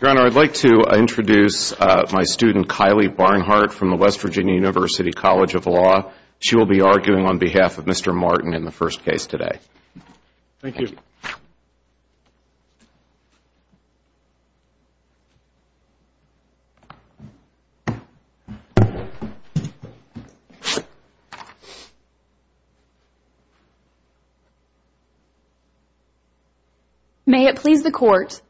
Your Honor, I'd like to introduce my student Kylie Barnhart from the West Virginia University College of Law. She will be arguing on behalf of Mr. Martin in the first case today. Thank you. Ms. Barnhart May it please the Court,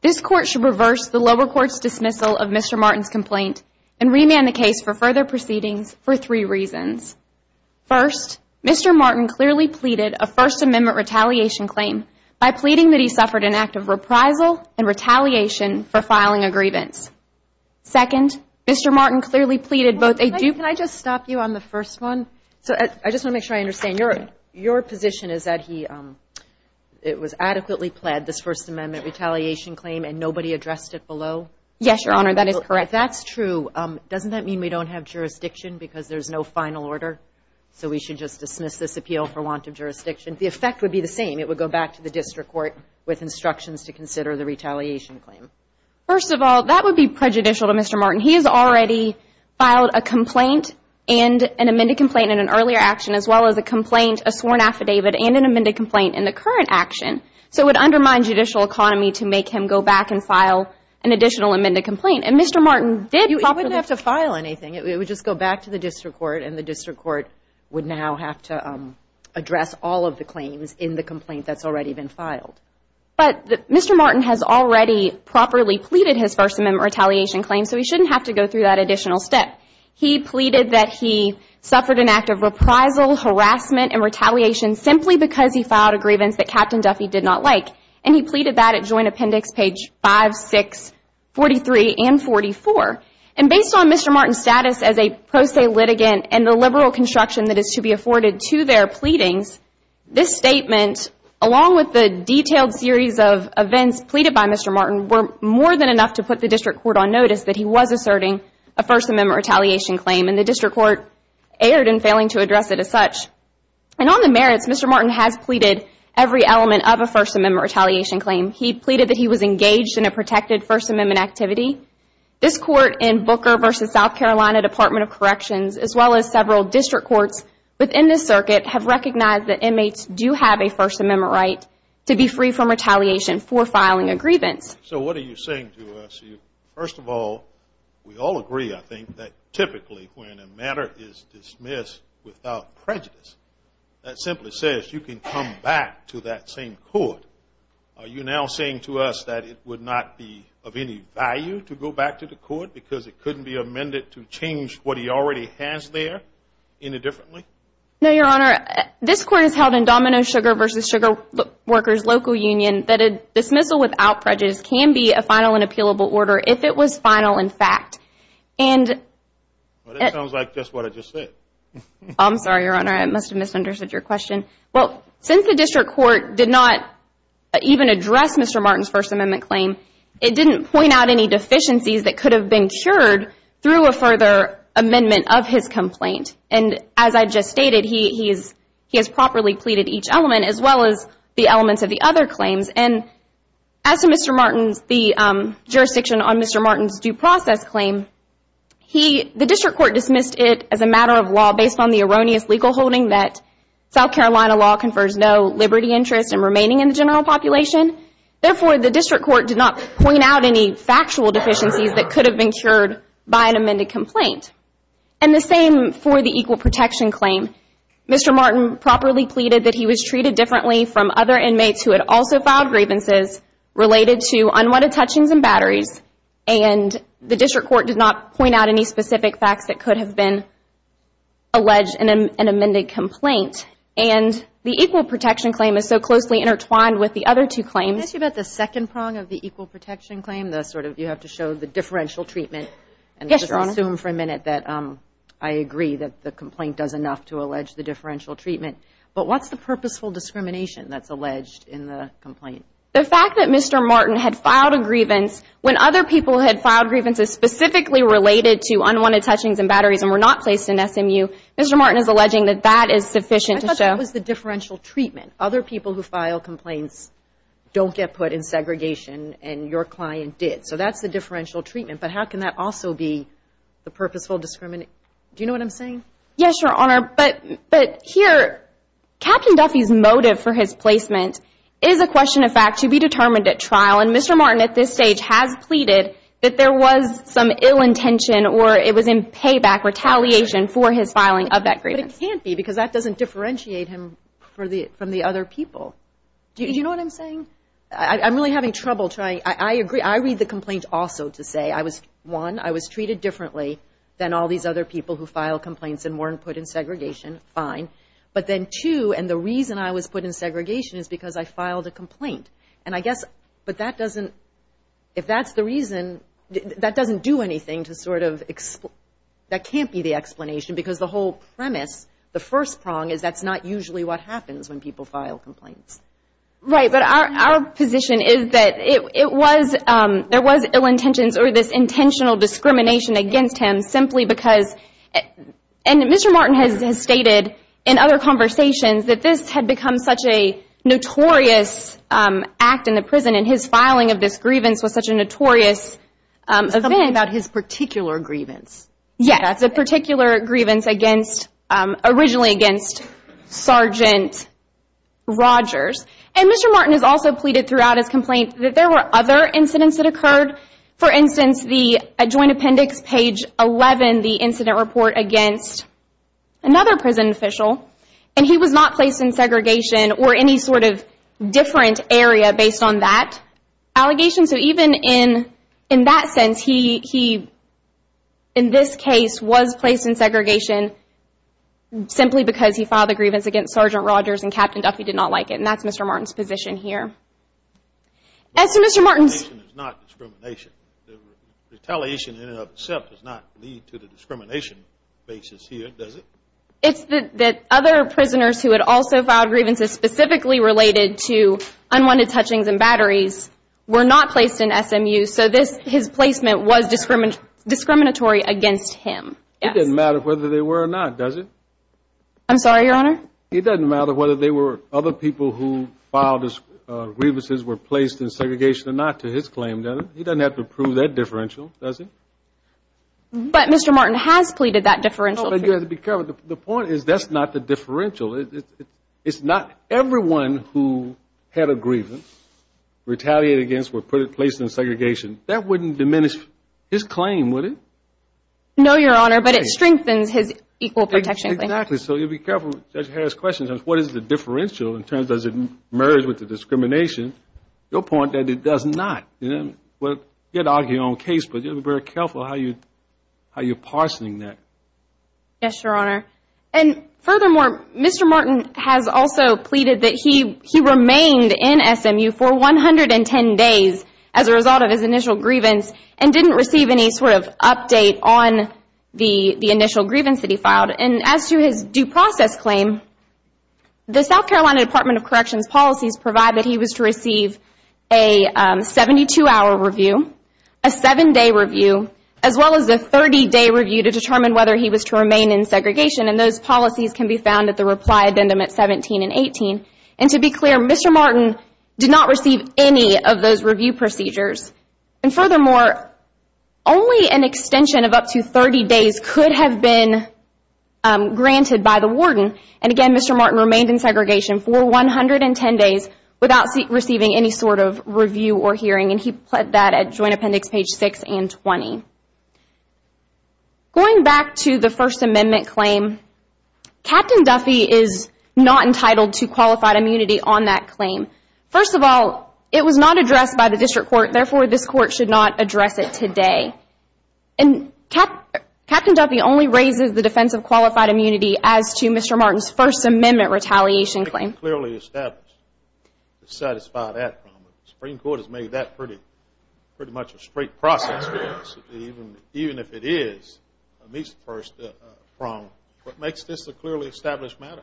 This Court shall reverse the lower court's dismissal of Mr. Martin's complaint and remand the case for further proceedings for three reasons. First, Mr. Martin clearly pleaded a First Amendment retaliation claim by pleading that he suffered an act of reprisal and retaliation for filing a grievance. Second, Mr. Martin clearly pleaded both a dupe Can I just stop you on the first one? I just want to make sure I understand. Your position is that it was adequately pled, this First Amendment retaliation claim, and nobody addressed it below? Yes, Your Honor, that is correct. If that's true, doesn't that mean we don't have jurisdiction because there's no final order? So we should just dismiss this appeal for want of jurisdiction? The effect would be the same. It would go back to the district court with instructions to consider the retaliation claim. First of all, that would be prejudicial to Mr. Martin. He has already filed a complaint and an amended complaint in an earlier action as well as a complaint, a sworn affidavit, and an amended complaint in the current action. So it would undermine judicial economy to make him go back and file an additional amended complaint. And Mr. Martin did properly He wouldn't have to file anything. It would just go back to the district court, and the district court would now have to address all of the claims in the complaint that's already been filed. But Mr. Martin has already properly pleaded his First Amendment retaliation claim, so he shouldn't have to go through that additional step. He pleaded that he suffered an act of reprisal, harassment, and retaliation simply because he filed a grievance that Captain Duffy did not like. And he pleaded that at Joint Appendix page 5, 6, 43, and 44. And based on Mr. Martin's status as a pro se litigant and the liberal construction that is to be afforded to their pleadings, this statement, along with the detailed series of events pleaded by Mr. Martin, were more than enough to put the district court on notice that he was asserting a First Amendment retaliation claim. And the district court erred in failing to address it as such. And on the merits, Mr. Martin has pleaded every element of a First Amendment retaliation claim. He pleaded that he was engaged in a protected First Amendment activity. This court in Booker v. South Carolina Department of Corrections, as well as several district courts within this circuit, have recognized that inmates do have a First Amendment right to be free from retaliation for filing a grievance. So what are you saying to us? First of all, we all agree, I think, that typically when a matter is dismissed without prejudice, that simply says you can come back to that same court. Are you now saying to us that it would not be of any value to go back to the court because it couldn't be amended to change what he already has there any differently? No, Your Honor. This court has held in Domino Sugar v. Sugar Workers Local Union that a dismissal without prejudice can be a final and appealable order if it was final in fact. That sounds like just what I just said. I'm sorry, Your Honor. I must have misunderstood your question. Well, since the district court did not even address Mr. Martin's First Amendment claim, it didn't point out any deficiencies that could have been cured through a further amendment of his complaint. And as I just stated, he has properly pleaded each element as well as the elements of the other claims. And as to Mr. Martin's, the jurisdiction on Mr. Martin's due process claim, the district court dismissed it as a matter of law based on the erroneous legal holding that South Carolina law confers no liberty, interest, and remaining in the general population. Therefore, the district court did not point out any factual deficiencies that could have been cured by an amended complaint. And the same for the equal protection claim. Mr. Martin properly pleaded that he was treated differently from other inmates who had also filed grievances related to unwanted touchings and batteries. And the district court did not point out any specific facts that could have been alleged in an amended complaint. And the equal protection claim is so closely intertwined with the other two claims. Can I ask you about the second prong of the equal protection claim, Yes, Your Honor. I'm going to assume for a minute that I agree that the complaint does enough to allege the differential treatment. But what's the purposeful discrimination that's alleged in the complaint? The fact that Mr. Martin had filed a grievance when other people had filed grievances specifically related to unwanted touchings and batteries and were not placed in SMU, Mr. Martin is alleging that that is sufficient to show. I thought that was the differential treatment. Other people who file complaints don't get put in segregation, and your client did. So that's the differential treatment. But how can that also be the purposeful discrimination? Do you know what I'm saying? Yes, Your Honor. But here, Captain Duffy's motive for his placement is a question of fact to be determined at trial. And Mr. Martin at this stage has pleaded that there was some ill intention or it was in payback retaliation for his filing of that grievance. But it can't be because that doesn't differentiate him from the other people. Do you know what I'm saying? I'm really having trouble trying. I agree. I read the complaint also to say, one, I was treated differently than all these other people who file complaints and weren't put in segregation. Fine. But then, two, and the reason I was put in segregation is because I filed a complaint. And I guess that doesn't do anything to sort of explain. That can't be the explanation because the whole premise, the first prong, is that's not usually what happens when people file complaints. Right. But our position is that it was, there was ill intentions or this intentional discrimination against him simply because, and Mr. Martin has stated in other conversations that this had become such a notorious act in the prison and his filing of this grievance was such a notorious event. Something about his particular grievance. Yeah, the particular grievance against, originally against Sergeant Rogers. And Mr. Martin has also pleaded throughout his complaint that there were other incidents that occurred. For instance, the joint appendix, page 11, the incident report against another prison official, and he was not placed in segregation or any sort of different area based on that allegation. So even in that sense, he, in this case, was placed in segregation simply because he filed a grievance against Sergeant Rogers and Captain Duffy did not like it. And that's Mr. Martin's position here. And so Mr. Martin's Discrimination is not discrimination. Retaliation in and of itself does not lead to the discrimination basis here, does it? It's that other prisoners who had also filed grievances specifically related to unwanted touchings and batteries were not placed in SMU, so his placement was discriminatory against him. It doesn't matter whether they were or not, does it? I'm sorry, Your Honor? It doesn't matter whether they were other people who filed grievances, were placed in segregation or not to his claim, does it? He doesn't have to prove that differential, does he? But Mr. Martin has pleaded that differential. You have to be careful. The point is that's not the differential. It's not everyone who had a grievance retaliated against were placed in segregation. That wouldn't diminish his claim, would it? No, Your Honor, but it strengthens his equal protection claim. Exactly. So you have to be careful. Judge Harris questions what is the differential in terms of does it merge with the discrimination. Your point is that it does not. You have to argue your own case, but you have to be very careful how you're parsing that. Yes, Your Honor. And furthermore, Mr. Martin has also pleaded that he remained in SMU for 110 days as a result of his initial grievance and didn't receive any sort of update on the initial grievance that he filed. And as to his due process claim, the South Carolina Department of Corrections policies provide that he was to receive a 72-hour review, a seven-day review, as well as a 30-day review to determine whether he was to remain in segregation. And those policies can be found at the reply addendum at 17 and 18. And to be clear, Mr. Martin did not receive any of those review procedures. And furthermore, only an extension of up to 30 days could have been granted by the warden. And again, Mr. Martin remained in segregation for 110 days without receiving any sort of review or hearing. And he pled that at Joint Appendix page 6 and 20. Going back to the First Amendment claim, Captain Duffy is not entitled to qualified immunity on that claim. First of all, it was not addressed by the district court. Therefore, this court should not address it today. And Captain Duffy only raises the defense of qualified immunity as to Mr. Martin's First Amendment retaliation claim. What makes this clearly established to satisfy that problem? The Supreme Court has made that pretty much a straight process, even if it is a misperceived problem. What makes this a clearly established matter?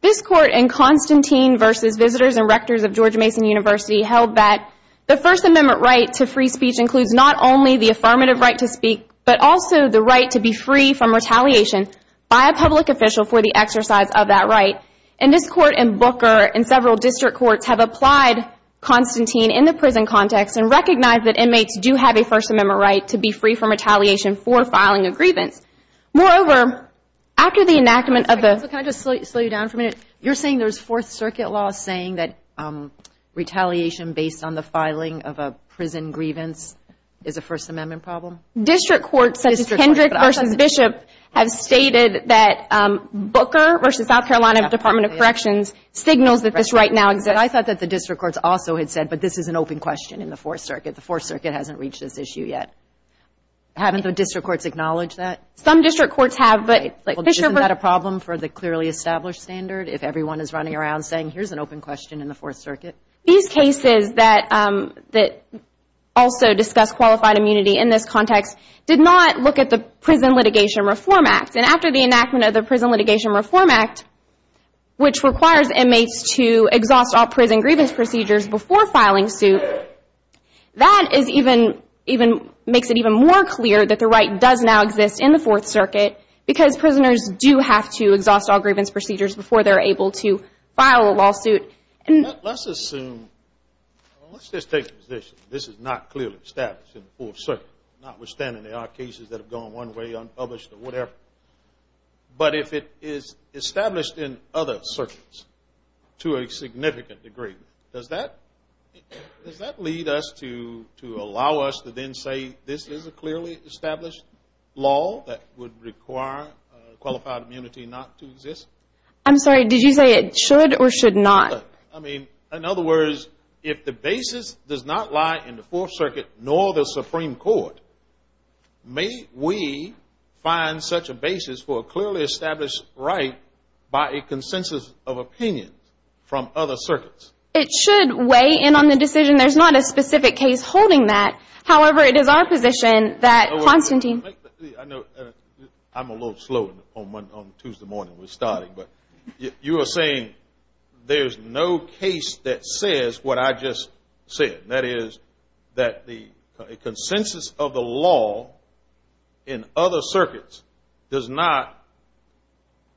This court in Constantine v. Visitors and Rectors of Georgia Mason University held that the First Amendment right to free speech includes not only the affirmative right to speak, but also the right to be free from retaliation by a public official for the exercise of that right. And this court in Booker and several district courts have applied Constantine in the prison context and recognized that inmates do have a First Amendment right to be free from retaliation for filing a grievance. Moreover, after the enactment of the – Can I just slow you down for a minute? You're saying there's Fourth Circuit law saying that retaliation based on the filing of a prison grievance is a First Amendment problem? District courts such as Kendrick v. Bishop have stated that Booker v. South Carolina Department of Corrections signals that this right now exists. I thought that the district courts also had said, but this is an open question in the Fourth Circuit. The Fourth Circuit hasn't reached this issue yet. Haven't the district courts acknowledged that? Some district courts have, but Bishop – Isn't that a problem for the clearly established standard if everyone is running around saying, here's an open question in the Fourth Circuit? These cases that also discuss qualified immunity in this context did not look at the Prison Litigation Reform Act. And after the enactment of the Prison Litigation Reform Act, which requires inmates to exhaust all prison grievance procedures before filing suit, that makes it even more clear that the right does now exist in the Fourth Circuit because prisoners do have to exhaust all grievance procedures before they're able to file a lawsuit. Let's assume – let's just take the position this is not clearly established in the Fourth Circuit, notwithstanding there are cases that have gone one way, unpublished, or whatever. But if it is established in other circuits to a significant degree, does that lead us to allow us to then say this is a clearly established law that would require qualified immunity not to exist? I'm sorry, did you say it should or should not? I mean, in other words, if the basis does not lie in the Fourth Circuit nor the Supreme Court, may we find such a basis for a clearly established right by a consensus of opinion from other circuits? It should weigh in on the decision. There's not a specific case holding that. However, it is our position that – I'm a little slow on Tuesday morning. We're starting. But you are saying there's no case that says what I just said, that is that the consensus of the law in other circuits does not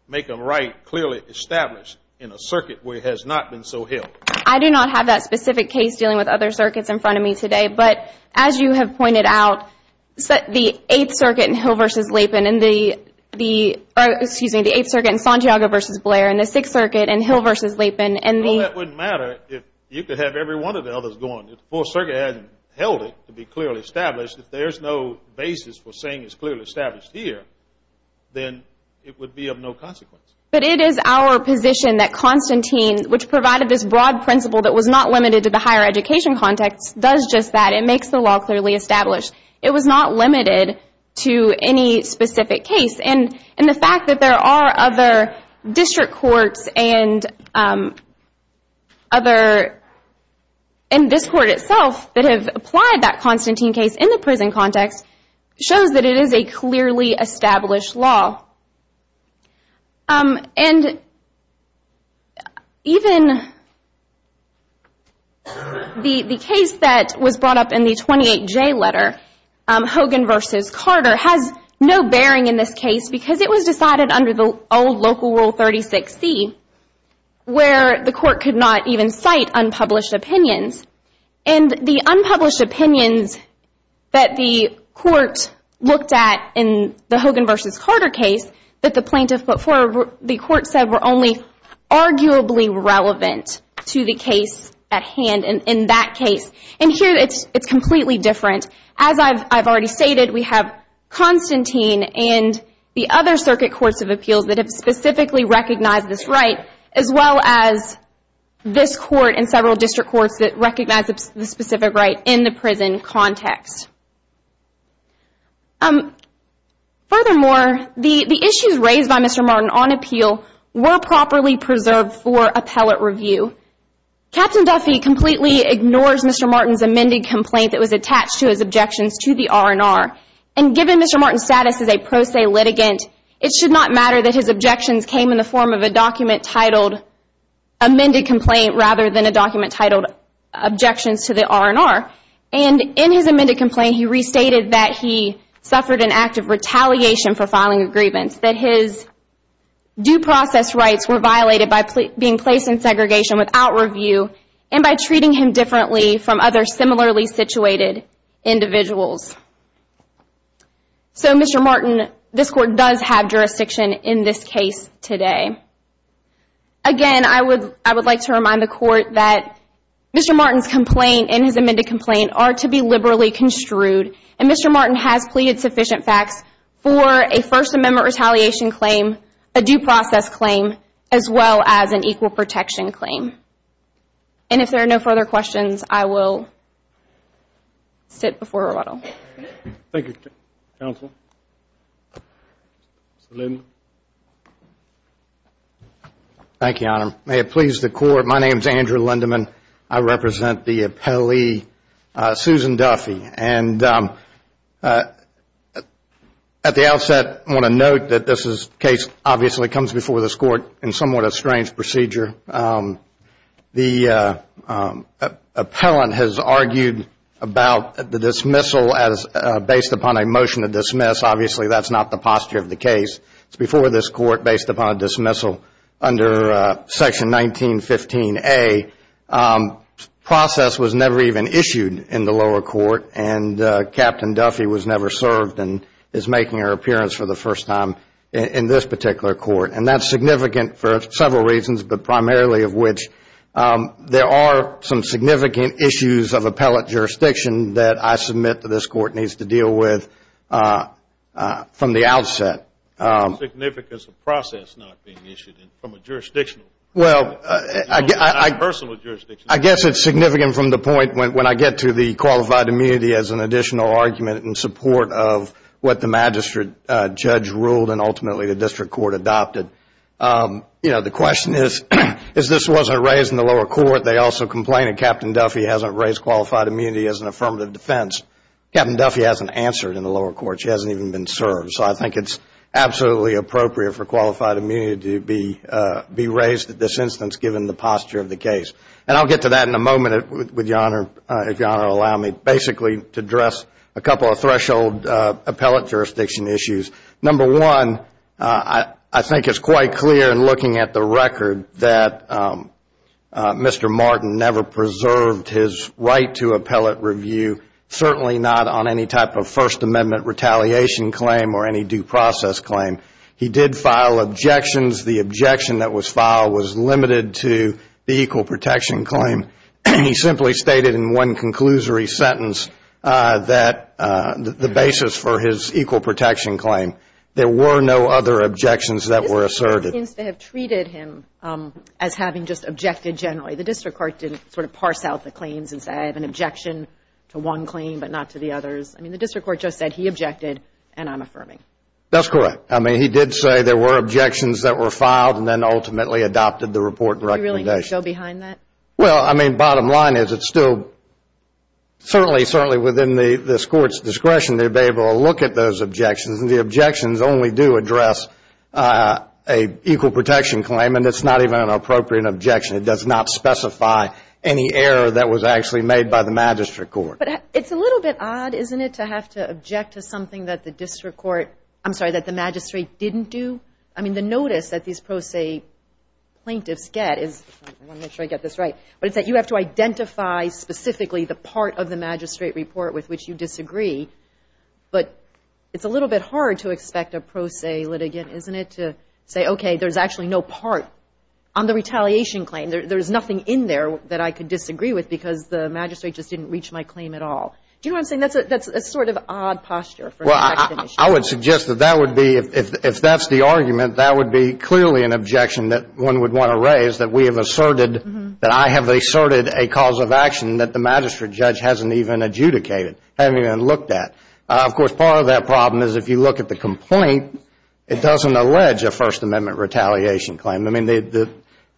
make a right clearly established in a circuit where it has not been so held. I do not have that specific case dealing with other circuits in front of me today. But as you have pointed out, the Eighth Circuit in Hill v. Lapan and the – excuse me, the Eighth Circuit in Santiago v. Blair and the Sixth Circuit in Hill v. Lapan and the – Well, that wouldn't matter if you could have every one of the others going. If the Fourth Circuit hasn't held it to be clearly established, if there's no basis for saying it's clearly established here, then it would be of no consequence. But it is our position that Constantine, which provided this broad principle that was not limited to the higher education context, does just that. It makes the law clearly established. It was not limited to any specific case. And the fact that there are other district courts and other – and this court itself that have applied that Constantine case in the prison context shows that it is a clearly established law. And even the case that was brought up in the 28J letter, Hogan v. Carter, has no bearing in this case because it was decided under the old Local Rule 36C where the court could not even cite unpublished opinions. And the unpublished opinions that the court looked at in the Hogan v. Carter case that the plaintiff put forward, the court said, were only arguably relevant to the case at hand in that case. And here it's completely different. As I've already stated, we have Constantine and the other circuit courts of appeals that have specifically recognized this right, as well as this court and several district courts that recognize the specific right in the prison context. Furthermore, the issues raised by Mr. Martin on appeal were properly preserved for appellate review. Captain Duffy completely ignores Mr. Martin's amended complaint that was attached to his objections to the R&R. And given Mr. Martin's status as a pro se litigant, it should not matter that his objections came in the form of a document titled amended complaint rather than a document titled objections to the R&R. And in his amended complaint, he restated that he suffered an act of retaliation for filing a grievance, that his due process rights were violated by being placed in segregation without review and by treating him differently from other similarly situated individuals. So Mr. Martin, this court does have jurisdiction in this case today. Again, I would like to remind the court that Mr. Martin's complaint and his amended complaint are to be liberally construed. And Mr. Martin has pleaded sufficient facts for a First Amendment retaliation claim, a due process claim, as well as an equal protection claim. And if there are no further questions, I will sit before rebuttal. Thank you, counsel. Mr. Lindemann. Thank you, Your Honor. May it please the court, my name is Andrew Lindemann. I represent the appellee Susan Duffy. And at the outset, I want to note that this case obviously comes before this court in somewhat a strange procedure. The appellant has argued about the dismissal as based upon a motion to dismiss. Obviously, that's not the posture of the case. It's before this court based upon a dismissal under Section 1915A. Process was never even issued in the lower court, and Captain Duffy was never served and is making her appearance for the first time in this particular court. And that's significant for several reasons, but primarily of which there are some significant issues of appellate jurisdiction that I submit that this court needs to deal with from the outset. What's the significance of process not being issued from a jurisdictional point of view? I guess it's significant from the point when I get to the qualified immunity as an additional argument in support of what the magistrate judge ruled and ultimately the district court adopted. The question is this wasn't raised in the lower court. They also complained that Captain Duffy hasn't raised qualified immunity as an affirmative defense. Captain Duffy hasn't answered in the lower court. She hasn't even been served. So I think it's absolutely appropriate for qualified immunity to be raised at this instance given the posture of the case. And I'll get to that in a moment, if Your Honor will allow me, basically to address a couple of threshold appellate jurisdiction issues. Number one, I think it's quite clear in looking at the record that Mr. Martin never preserved his right to appellate review, certainly not on any type of First Amendment retaliation claim or any due process claim. He did file objections. The objection that was filed was limited to the equal protection claim. He simply stated in one conclusory sentence that the basis for his equal protection claim, there were no other objections that were asserted. The district court seems to have treated him as having just objected generally. The district court didn't sort of parse out the claims and say I have an objection to one claim but not to the others. I mean, the district court just said he objected and I'm affirming. That's correct. I mean, he did say there were objections that were filed and then ultimately adopted the report and recommendation. Did he really go behind that? Well, I mean, bottom line is it's still certainly, certainly within this court's discretion to be able to look at those objections. The objections only do address a equal protection claim and it's not even an appropriate objection. It does not specify any error that was actually made by the magistrate court. But it's a little bit odd, isn't it, to have to object to something that the district court, I'm sorry, that the magistrate didn't do? I mean, the notice that these pro se plaintiffs get is I want to make sure I get this right, but it's that you have to identify specifically the part of the magistrate report with which you disagree. But it's a little bit hard to expect a pro se litigant, isn't it, to say, okay, there's actually no part on the retaliation claim. There's nothing in there that I could disagree with because the magistrate just didn't reach my claim at all. Do you know what I'm saying? That's a sort of odd posture for an action issue. Well, I would suggest that that would be, if that's the argument, that would be clearly an objection that one would want to raise, that we have asserted, that I have asserted a cause of action that the magistrate judge hasn't even adjudicated, hasn't even looked at. Of course, part of that problem is if you look at the complaint, it doesn't allege a First Amendment retaliation claim. I mean,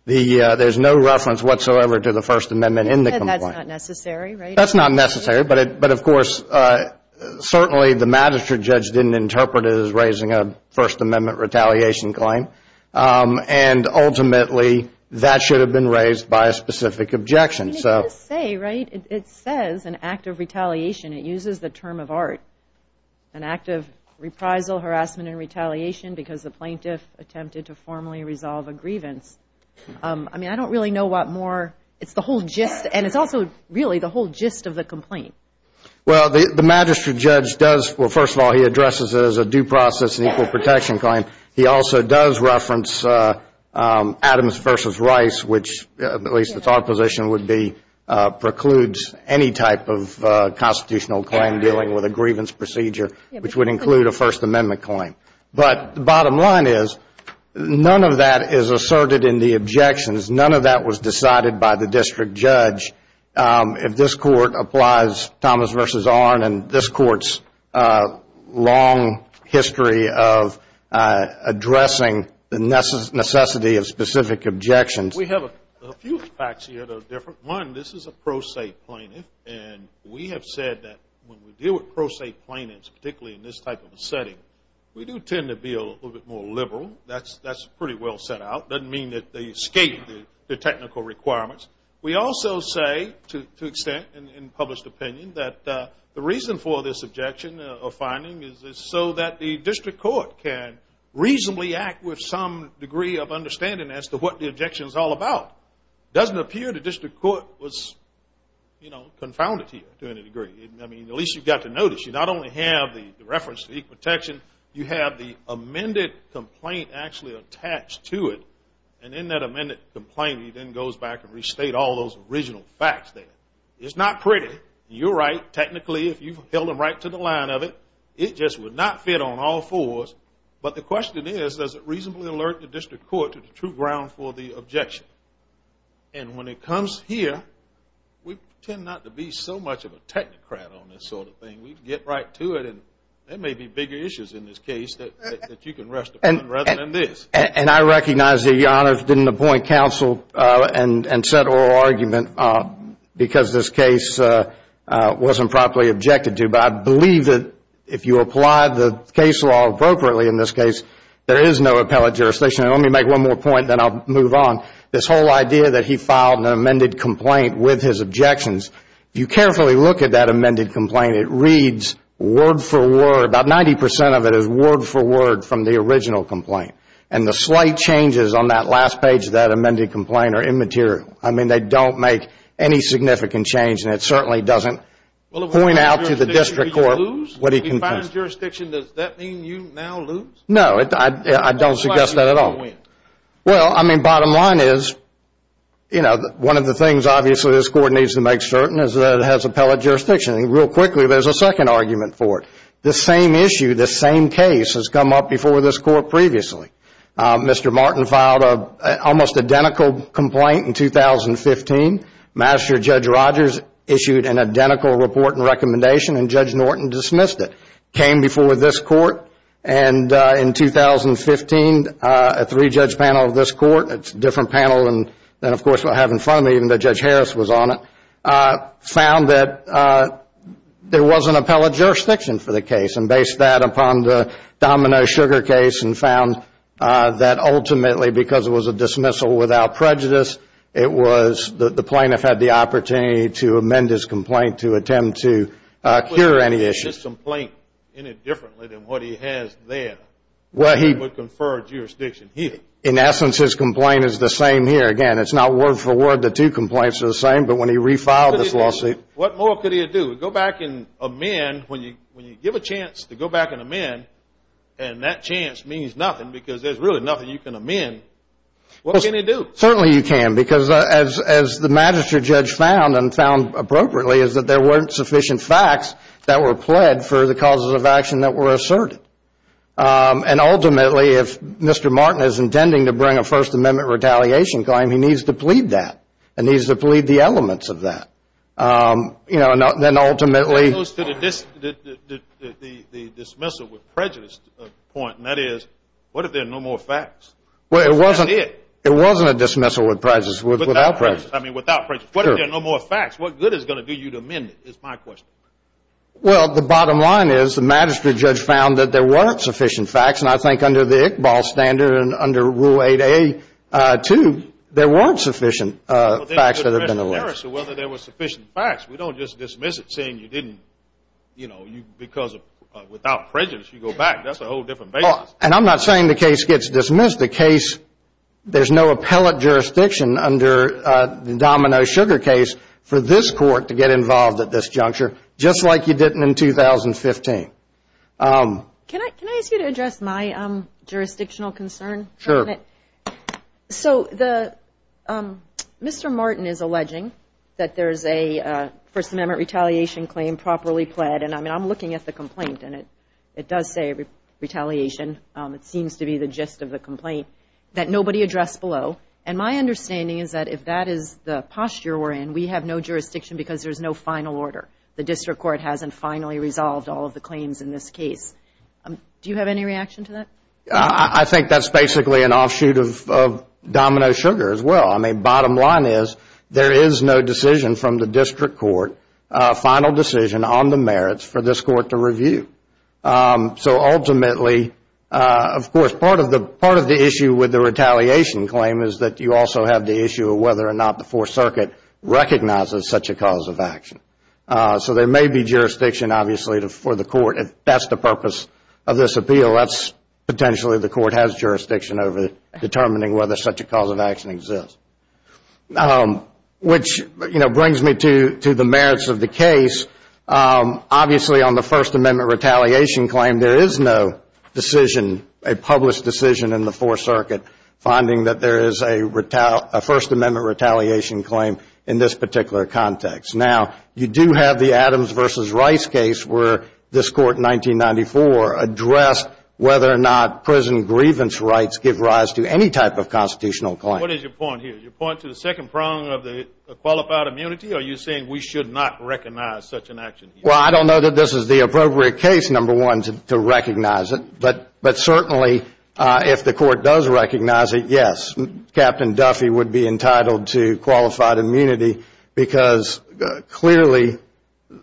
there's no reference whatsoever to the First Amendment in the complaint. And that's not necessary, right? That's not necessary. But, of course, certainly the magistrate judge didn't interpret it as raising a First Amendment retaliation claim. And, ultimately, that should have been raised by a specific objection. It does say, right, it says an act of retaliation. It uses the term of art, an act of reprisal, harassment, and retaliation because the plaintiff attempted to formally resolve a grievance. I mean, I don't really know what more. It's the whole gist, and it's also really the whole gist of the complaint. Well, the magistrate judge does, well, first of all, he addresses it as a due process and equal protection claim. He also does reference Adams v. Rice, which, at least it's our position, would be precludes any type of constitutional claim dealing with a grievance procedure, which would include a First Amendment claim. But the bottom line is none of that is asserted in the objections. None of that was decided by the district judge. If this Court applies Thomas v. Arnn and this Court's long history of addressing the necessity of specific objections. We have a few facts here that are different. One, this is a pro se plaintiff, and we have said that when we deal with pro se plaintiffs, particularly in this type of a setting, we do tend to be a little bit more liberal. That's pretty well set out. It doesn't mean that they escape the technical requirements. We also say, to an extent in published opinion, that the reason for this objection or finding is so that the district court can reasonably act with some degree of understanding as to what the objection is all about. It doesn't appear the district court was, you know, confounded here to any degree. I mean, at least you've got to notice you not only have the reference to equal protection, you have the amended complaint actually attached to it. And in that amended complaint, he then goes back and restates all those original facts there. It's not pretty. You're right. Technically, if you held them right to the line of it, it just would not fit on all fours. But the question is, does it reasonably alert the district court to the true ground for the objection? And when it comes here, we tend not to be so much of a technocrat on this sort of thing. We get right to it. And there may be bigger issues in this case that you can rest upon rather than this. And I recognize that Your Honor didn't appoint counsel and set oral argument because this case wasn't properly objected to. But I believe that if you apply the case law appropriately in this case, there is no appellate jurisdiction. And let me make one more point, then I'll move on. This whole idea that he filed an amended complaint with his objections, if you carefully look at that amended complaint, it reads word for word. About 90% of it is word for word from the original complaint. And the slight changes on that last page of that amended complaint are immaterial. I mean, they don't make any significant change. And it certainly doesn't point out to the district court what he complains. Well, if he finds jurisdiction, does that mean you now lose? No, I don't suggest that at all. Well, I mean, bottom line is, you know, one of the things, obviously, this Court needs to make certain is that it has appellate jurisdiction. And real quickly, there's a second argument for it. The same issue, the same case has come up before this Court previously. Mr. Martin filed an almost identical complaint in 2015. Master Judge Rogers issued an identical report and recommendation, and Judge Norton dismissed it. It came before this Court, and in 2015, a three-judge panel of this Court, it's a different panel than, of course, what I have in front of me, even though Judge Harris was on it, found that there wasn't appellate jurisdiction for the case and based that upon the Domino Sugar case and found that, ultimately, because it was a dismissal without prejudice, it was that the plaintiff had the opportunity to amend his complaint to attempt to cure any issues. Well, isn't his complaint in it differently than what he has there that would confer jurisdiction here? In essence, his complaint is the same here. Again, it's not word for word the two complaints are the same, but when he refiled this lawsuit. What more could he do? Go back and amend when you give a chance to go back and amend, and that chance means nothing because there's really nothing you can amend. What can he do? Certainly, you can because, as the Magistrate Judge found and found appropriately, is that there weren't sufficient facts that were pled for the causes of action that were asserted. And, ultimately, if Mr. Martin is intending to bring a First Amendment retaliation claim, he needs to plead that and needs to plead the elements of that. You know, and then, ultimately, It goes to the dismissal with prejudice point, and that is, what if there are no more facts? Well, it wasn't a dismissal without prejudice. I mean, without prejudice. What if there are no more facts? What good is it going to do you to amend it is my question. Well, the bottom line is the Magistrate Judge found that there weren't sufficient facts, and I think under the Iqbal standard and under Rule 8a, too, there weren't sufficient facts that have been alleged. So whether there were sufficient facts, we don't just dismiss it saying you didn't, you know, because without prejudice you go back. That's a whole different basis. And I'm not saying the case gets dismissed. There's no appellate jurisdiction under the Domino Sugar case for this court to get involved at this juncture, just like you didn't in 2015. Can I ask you to address my jurisdictional concern? Sure. So Mr. Martin is alleging that there is a First Amendment retaliation claim properly pled, and I'm looking at the complaint, and it does say retaliation. It seems to be the gist of the complaint that nobody addressed below, and my understanding is that if that is the posture we're in, we have no jurisdiction because there's no final order. The district court hasn't finally resolved all of the claims in this case. Do you have any reaction to that? I think that's basically an offshoot of Domino Sugar as well. I mean, bottom line is there is no decision from the district court, final decision on the merits for this court to review. So ultimately, of course, part of the issue with the retaliation claim is that you also have the issue of whether or not the Fourth Circuit recognizes such a cause of action. So there may be jurisdiction, obviously, for the court if that's the purpose of this appeal. That's potentially the court has jurisdiction over determining whether such a cause of action exists. Which, you know, brings me to the merits of the case. Obviously, on the First Amendment retaliation claim, there is no decision, a published decision in the Fourth Circuit finding that there is a First Amendment retaliation claim in this particular context. Now, you do have the Adams v. Rice case where this court in 1994 addressed whether or not prison grievance rights give rise to any type of constitutional claim. What is your point here? Is your point to the second prong of the qualified immunity, or are you saying we should not recognize such an action? Well, I don't know that this is the appropriate case, number one, to recognize it. But certainly, if the court does recognize it, yes, Captain Duffy would be entitled to qualified immunity because clearly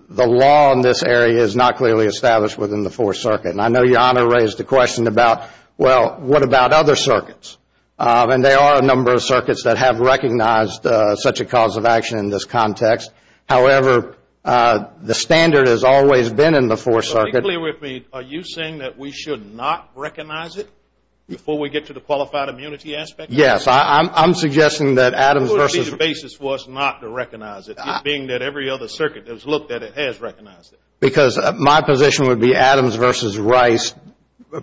the law in this area is not clearly established within the Fourth Circuit. And I know Your Honor raised the question about, well, what about other circuits? And there are a number of circuits that have recognized such a cause of action in this context. However, the standard has always been in the Fourth Circuit. So be clear with me. Are you saying that we should not recognize it before we get to the qualified immunity aspect? Yes. I'm suggesting that Adams v. What would be the basis for us not to recognize it, being that every other circuit has looked at it has recognized it? Because my position would be Adams v. Rice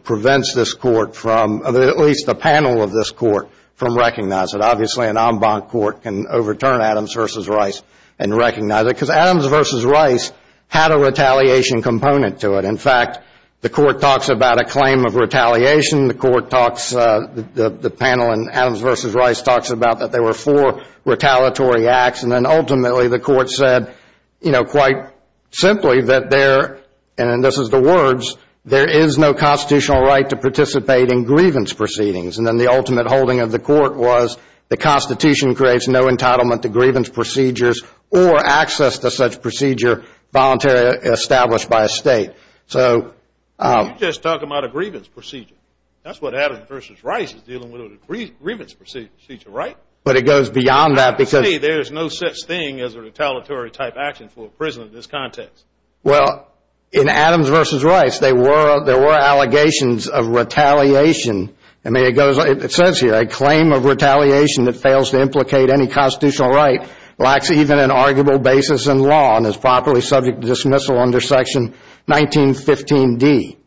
prevents this court from, at least the panel of this court, from recognizing it. Obviously an en banc court can overturn Adams v. Rice and recognize it because Adams v. Rice had a retaliation component to it. In fact, the court talks about a claim of retaliation. The panel in Adams v. Rice talks about that there were four retaliatory acts. And then ultimately the court said, you know, quite simply that there, and this is the words, there is no constitutional right to participate in grievance proceedings. And then the ultimate holding of the court was the Constitution creates no entitlement to grievance procedures or access to such procedure voluntarily established by a state. So you're just talking about a grievance procedure. That's what Adams v. Rice is dealing with, a grievance procedure, right? But it goes beyond that because To me there is no such thing as a retaliatory type action for a prisoner in this context. Well, in Adams v. Rice there were allegations of retaliation. It says here, a claim of retaliation that fails to implicate any constitutional right lacks even an arguable basis in law and is properly subject to dismissal under Section 1915D.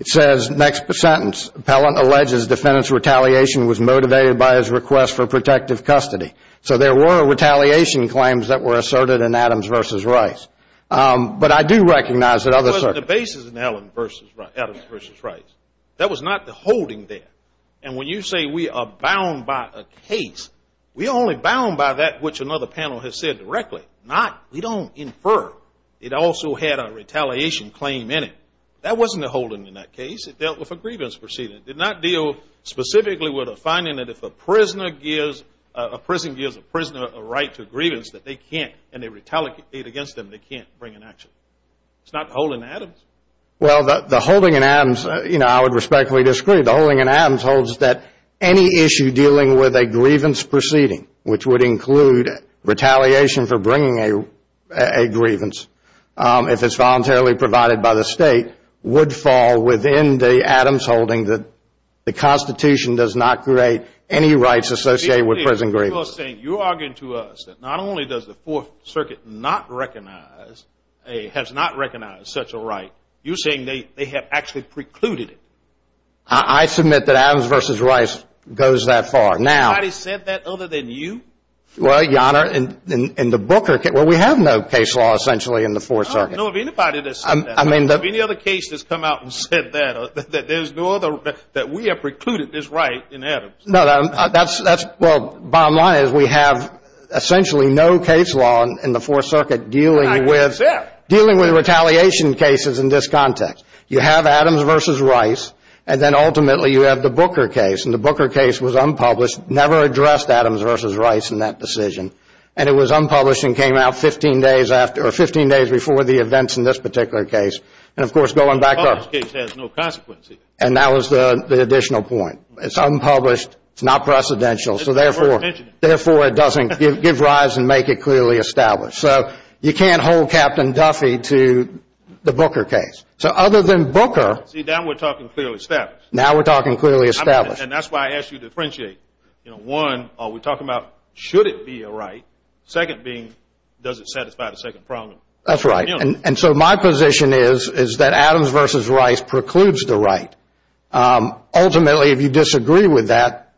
It says, next sentence, Pellant alleges defendant's retaliation was motivated by his request for protective custody. So there were retaliation claims that were asserted in Adams v. Rice. But I do recognize that other The basis in Adams v. Rice, that was not the holding there. And when you say we are bound by a case, we are only bound by that which another panel has said directly. Not, we don't infer. It also had a retaliation claim in it. That wasn't a holding in that case. It dealt with a grievance proceeding. It did not deal specifically with a finding that if a prisoner gives, a prison gives a prisoner a right to a grievance that they can't, and they retaliate against them, they can't bring an action. It's not the holding in Adams. Well, the holding in Adams, you know, I would respectfully disagree. The holding in Adams holds that any issue dealing with a grievance proceeding, which would include retaliation for holding that the Constitution does not create any rights associated with prison grievance. You are arguing to us that not only does the Fourth Circuit not recognize, has not recognized such a right, you are saying they have actually precluded it. I submit that Adams v. Rice goes that far. Has anybody said that other than you? Well, Your Honor, in the Booker case, well, we have no case law essentially in the Fourth Circuit. I don't know of anybody that said that. Have any other cases come out and said that, that there's no other, that we have precluded this right in Adams? No, that's, well, bottom line is we have essentially no case law in the Fourth Circuit dealing with retaliation cases in this context. You have Adams v. Rice, and then ultimately you have the Booker case. And the Booker case was unpublished, never addressed Adams v. Rice in that decision. And it was unpublished and came out 15 days after, or 15 days before the events in this particular case. And, of course, going back up. The unpublished case has no consequences. And that was the additional point. It's unpublished. It's not precedential. So, therefore, it doesn't give rise and make it clearly established. So, you can't hold Captain Duffy to the Booker case. So, other than Booker. See, now we're talking clearly established. Now we're talking clearly established. And that's why I asked you to differentiate. You know, one, are we talking about should it be a right? Second being, does it satisfy the second problem? That's right. And so my position is that Adams v. Rice precludes the right. Ultimately, if you disagree with that,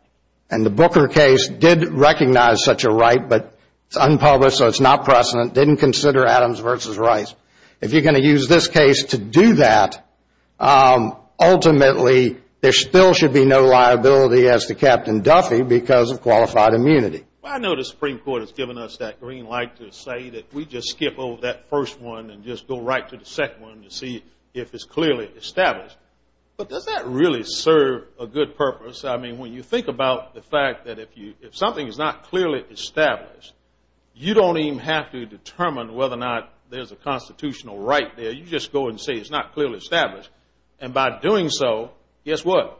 and the Booker case did recognize such a right, but it's unpublished, so it's not precedent, didn't consider Adams v. Rice. If you're going to use this case to do that, ultimately there still should be no liability, as to Captain Duffy, because of qualified immunity. I know the Supreme Court has given us that green light to say that we just skip over that first one and just go right to the second one to see if it's clearly established. But does that really serve a good purpose? I mean, when you think about the fact that if something is not clearly established, you don't even have to determine whether or not there's a constitutional right there. You just go and say it's not clearly established. And by doing so, guess what?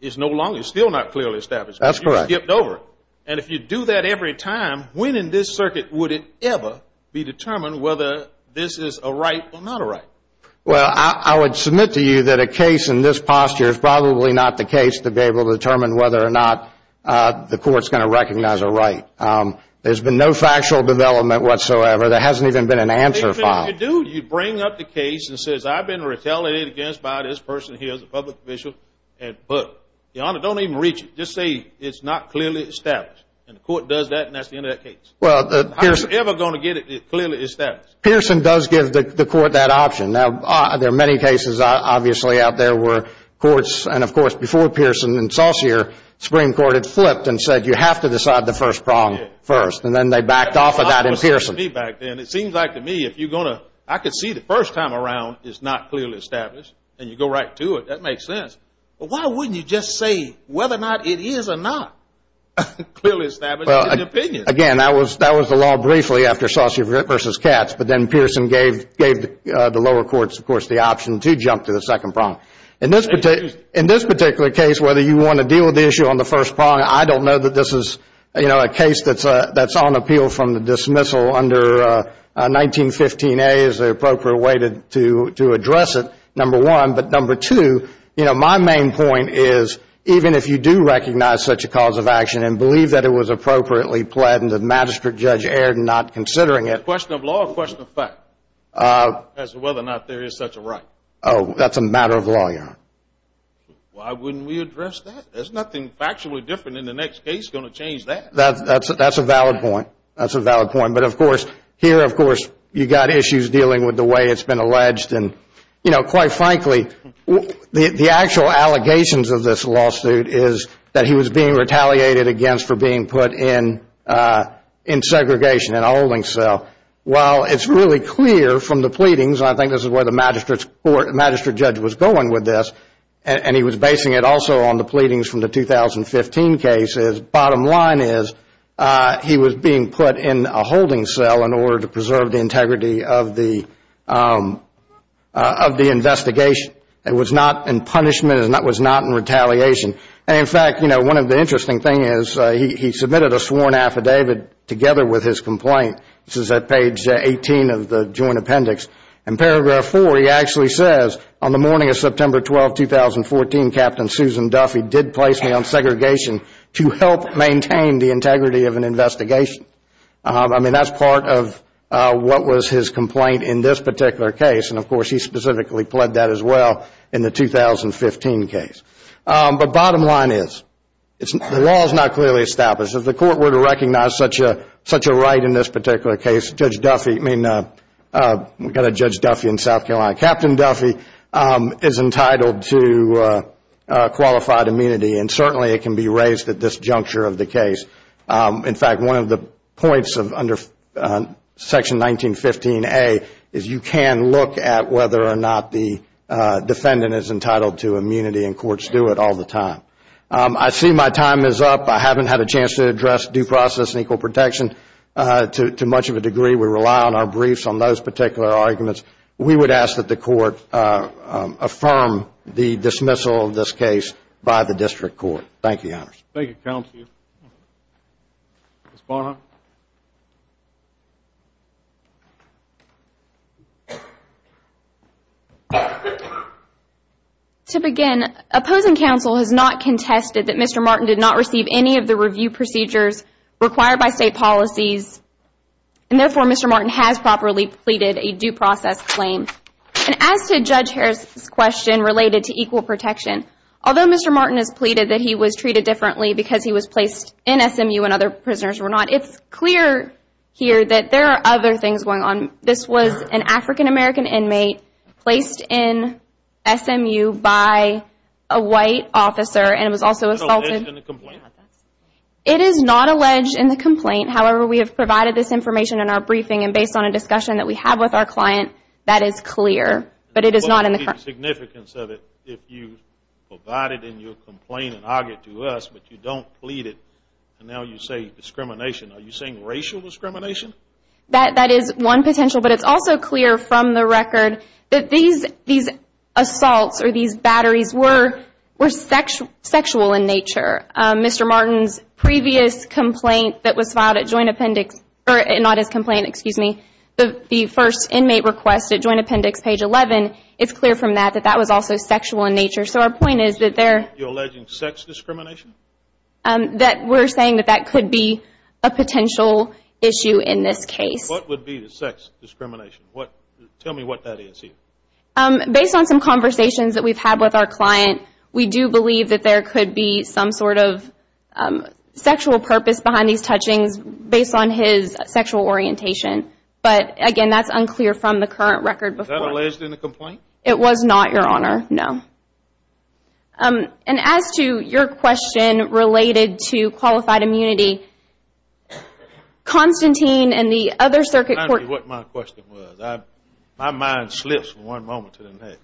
It's no longer still not clearly established. That's correct. You skipped over it. And if you do that every time, when in this circuit would it ever be determined whether this is a right or not a right? Well, I would submit to you that a case in this posture is probably not the case to be able to determine whether or not the court's going to recognize a right. There's been no factual development whatsoever. There hasn't even been an answer filed. When you do, you bring up the case and says I've been retaliated against by this person here as a public official. But, Your Honor, don't even reach it. Just say it's not clearly established. And the court does that, and that's the end of that case. How are you ever going to get it clearly established? Pearson does give the court that option. Now, there are many cases, obviously, out there where courts and, of course, before Pearson and Saucier, the Supreme Court had flipped and said you have to decide the first problem first. And then they backed off of that in Pearson. It seems like to me if you're going to, I can see the first time around it's not clearly established, and you go right to it, that makes sense. But why wouldn't you just say whether or not it is or not clearly established in an opinion? Again, that was the law briefly after Saucier v. Katz, but then Pearson gave the lower courts, of course, the option to jump to the second problem. In this particular case, whether you want to deal with the issue on the first problem, I don't know that this is a case that's on appeal from the dismissal under 1915A as the appropriate way to address it, number one. But number two, my main point is even if you do recognize such a cause of action and believe that it was appropriately planned and the magistrate judge erred in not considering it. A question of law or a question of fact as to whether or not there is such a right? Oh, that's a matter of law, Your Honor. Why wouldn't we address that? There's nothing factually different in the next case going to change that. That's a valid point. That's a valid point. But, of course, here, of course, you've got issues dealing with the way it's been alleged. And, you know, quite frankly, the actual allegations of this lawsuit is that he was being retaliated against for being put in segregation, in a holding cell. While it's really clear from the pleadings, and I think this is where the magistrate judge was going with this, and he was basing it also on the pleadings from the 2015 cases, bottom line is he was being put in a holding cell in order to preserve the integrity of the investigation. It was not in punishment. It was not in retaliation. And, in fact, you know, one of the interesting things is he submitted a sworn affidavit together with his complaint. This is at page 18 of the joint appendix. In paragraph 4, he actually says, on the morning of September 12, 2014, Captain Susan Duffy did place me on segregation to help maintain the integrity of an investigation. I mean, that's part of what was his complaint in this particular case. And, of course, he specifically pled that as well in the 2015 case. But bottom line is the law is not clearly established. If the court were to recognize such a right in this particular case, Judge Duffy, I mean, we've got a Judge Duffy in South Carolina, Captain Duffy is entitled to qualified immunity, and certainly it can be raised at this juncture of the case. In fact, one of the points under Section 1915A is you can look at whether or not the defendant is entitled to immunity, and courts do it all the time. I see my time is up. I haven't had a chance to address due process and equal protection to much of a degree. We rely on our briefs on those particular arguments. We would ask that the court affirm the dismissal of this case by the district court. Thank you, Your Honors. Thank you, Counsel. Ms. Barnhart. To begin, opposing counsel has not contested that Mr. Martin did not receive any of the review procedures required by state policies, and therefore Mr. Martin has properly pleaded a due process claim. And as to Judge Harris' question related to equal protection, although Mr. Martin has pleaded that he was treated differently because he was placed in SMU and other prisoners were not, it's clear here that there are other things going on. This was an African-American inmate placed in SMU by a white officer and was also assaulted. It is not alleged in the complaint. It is not alleged in the complaint. However, we have provided this information in our briefing, and based on a discussion that we have with our client, that is clear. But it is not in the complaint. What would be the significance of it if you provided in your complaint and argued to us, but you don't plead it, and now you say discrimination, are you saying racial discrimination? That is one potential. But it's also clear from the record that these assaults or these batteries were sexual in nature. Mr. Martin's previous complaint that was filed at Joint Appendix, or not his complaint, excuse me, the first inmate request at Joint Appendix, page 11, it's clear from that that that was also sexual in nature. So our point is that there – You're alleging sex discrimination? That we're saying that that could be a potential issue in this case. What would be the sex discrimination? Tell me what that is here. Based on some conversations that we've had with our client, we do believe that there could be some sort of sexual purpose behind these touchings based on his sexual orientation. But, again, that's unclear from the current record. Was that alleged in the complaint? It was not, Your Honor, no. And as to your question related to qualified immunity, Constantine and the other circuit court – Tell me what my question was. My mind slips from one moment to the next.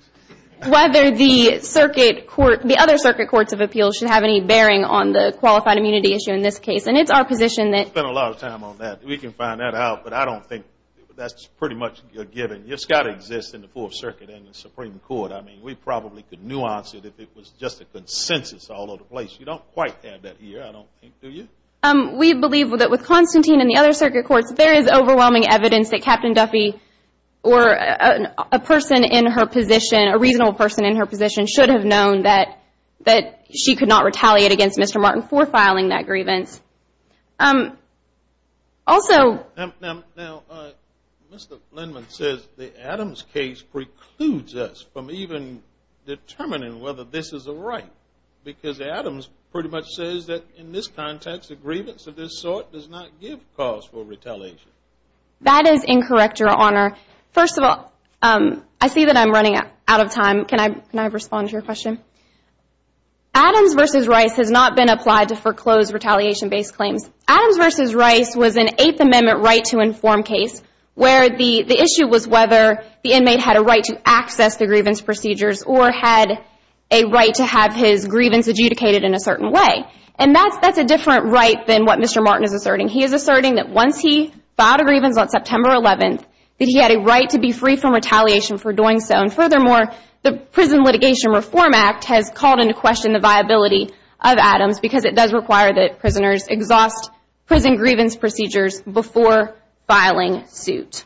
Whether the other circuit courts of appeals should have any bearing on the qualified immunity issue in this case. And it's our position that – We've spent a lot of time on that. We can find that out. But I don't think that's pretty much a given. It's got to exist in the Fourth Circuit and the Supreme Court. I mean, we probably could nuance it if it was just a consensus all over the place. You don't quite have that here, I don't think, do you? We believe that with Constantine and the other circuit courts, there is overwhelming evidence that Captain Duffy or a person in her position, a reasonable person in her position, should have known that she could not retaliate against Mr. Martin for filing that grievance. Also – Now, Mr. Lindman says the Adams case precludes us from even determining whether this is a right. Because Adams pretty much says that in this context, a grievance of this sort does not give cause for retaliation. That is incorrect, Your Honor. First of all, I see that I'm running out of time. Can I respond to your question? Adams v. Rice has not been applied to foreclose retaliation-based claims. Adams v. Rice was an Eighth Amendment right-to-inform case where the issue was whether the inmate had a right to access the grievance procedures or had a right to have his grievance adjudicated in a certain way. And that's a different right than what Mr. Martin is asserting. He is asserting that once he filed a grievance on September 11th, that he had a right to be free from retaliation for doing so. And furthermore, the Prison Litigation Reform Act has called into question the viability of Adams because it does require that prisoners exhaust prison grievance procedures before filing suit.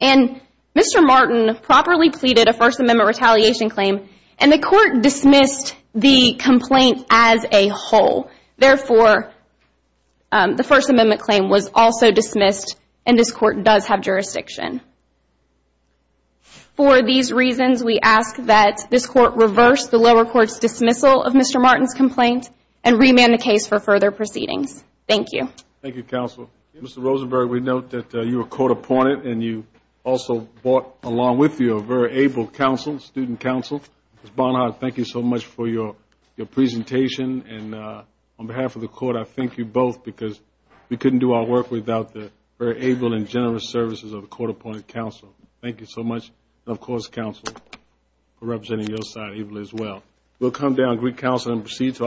And Mr. Martin properly pleaded a First Amendment retaliation claim, and the Court dismissed the complaint as a whole. Therefore, the First Amendment claim was also dismissed, and this Court does have jurisdiction. For these reasons, we ask that this Court reverse the lower court's dismissal of Mr. Martin's complaint and remand the case for further proceedings. Thank you. Thank you, Counsel. Mr. Rosenberg, we note that you were court-appointed, and you also brought along with you a very able counsel, student counsel. Ms. Bonhart, thank you so much for your presentation. And on behalf of the Court, I thank you both because we couldn't do our work without the very able and generous services of the court-appointed counsel. Thank you so much, and of course, Counsel, for representing your side as well. We'll come down and greet Counsel and proceed to our next case.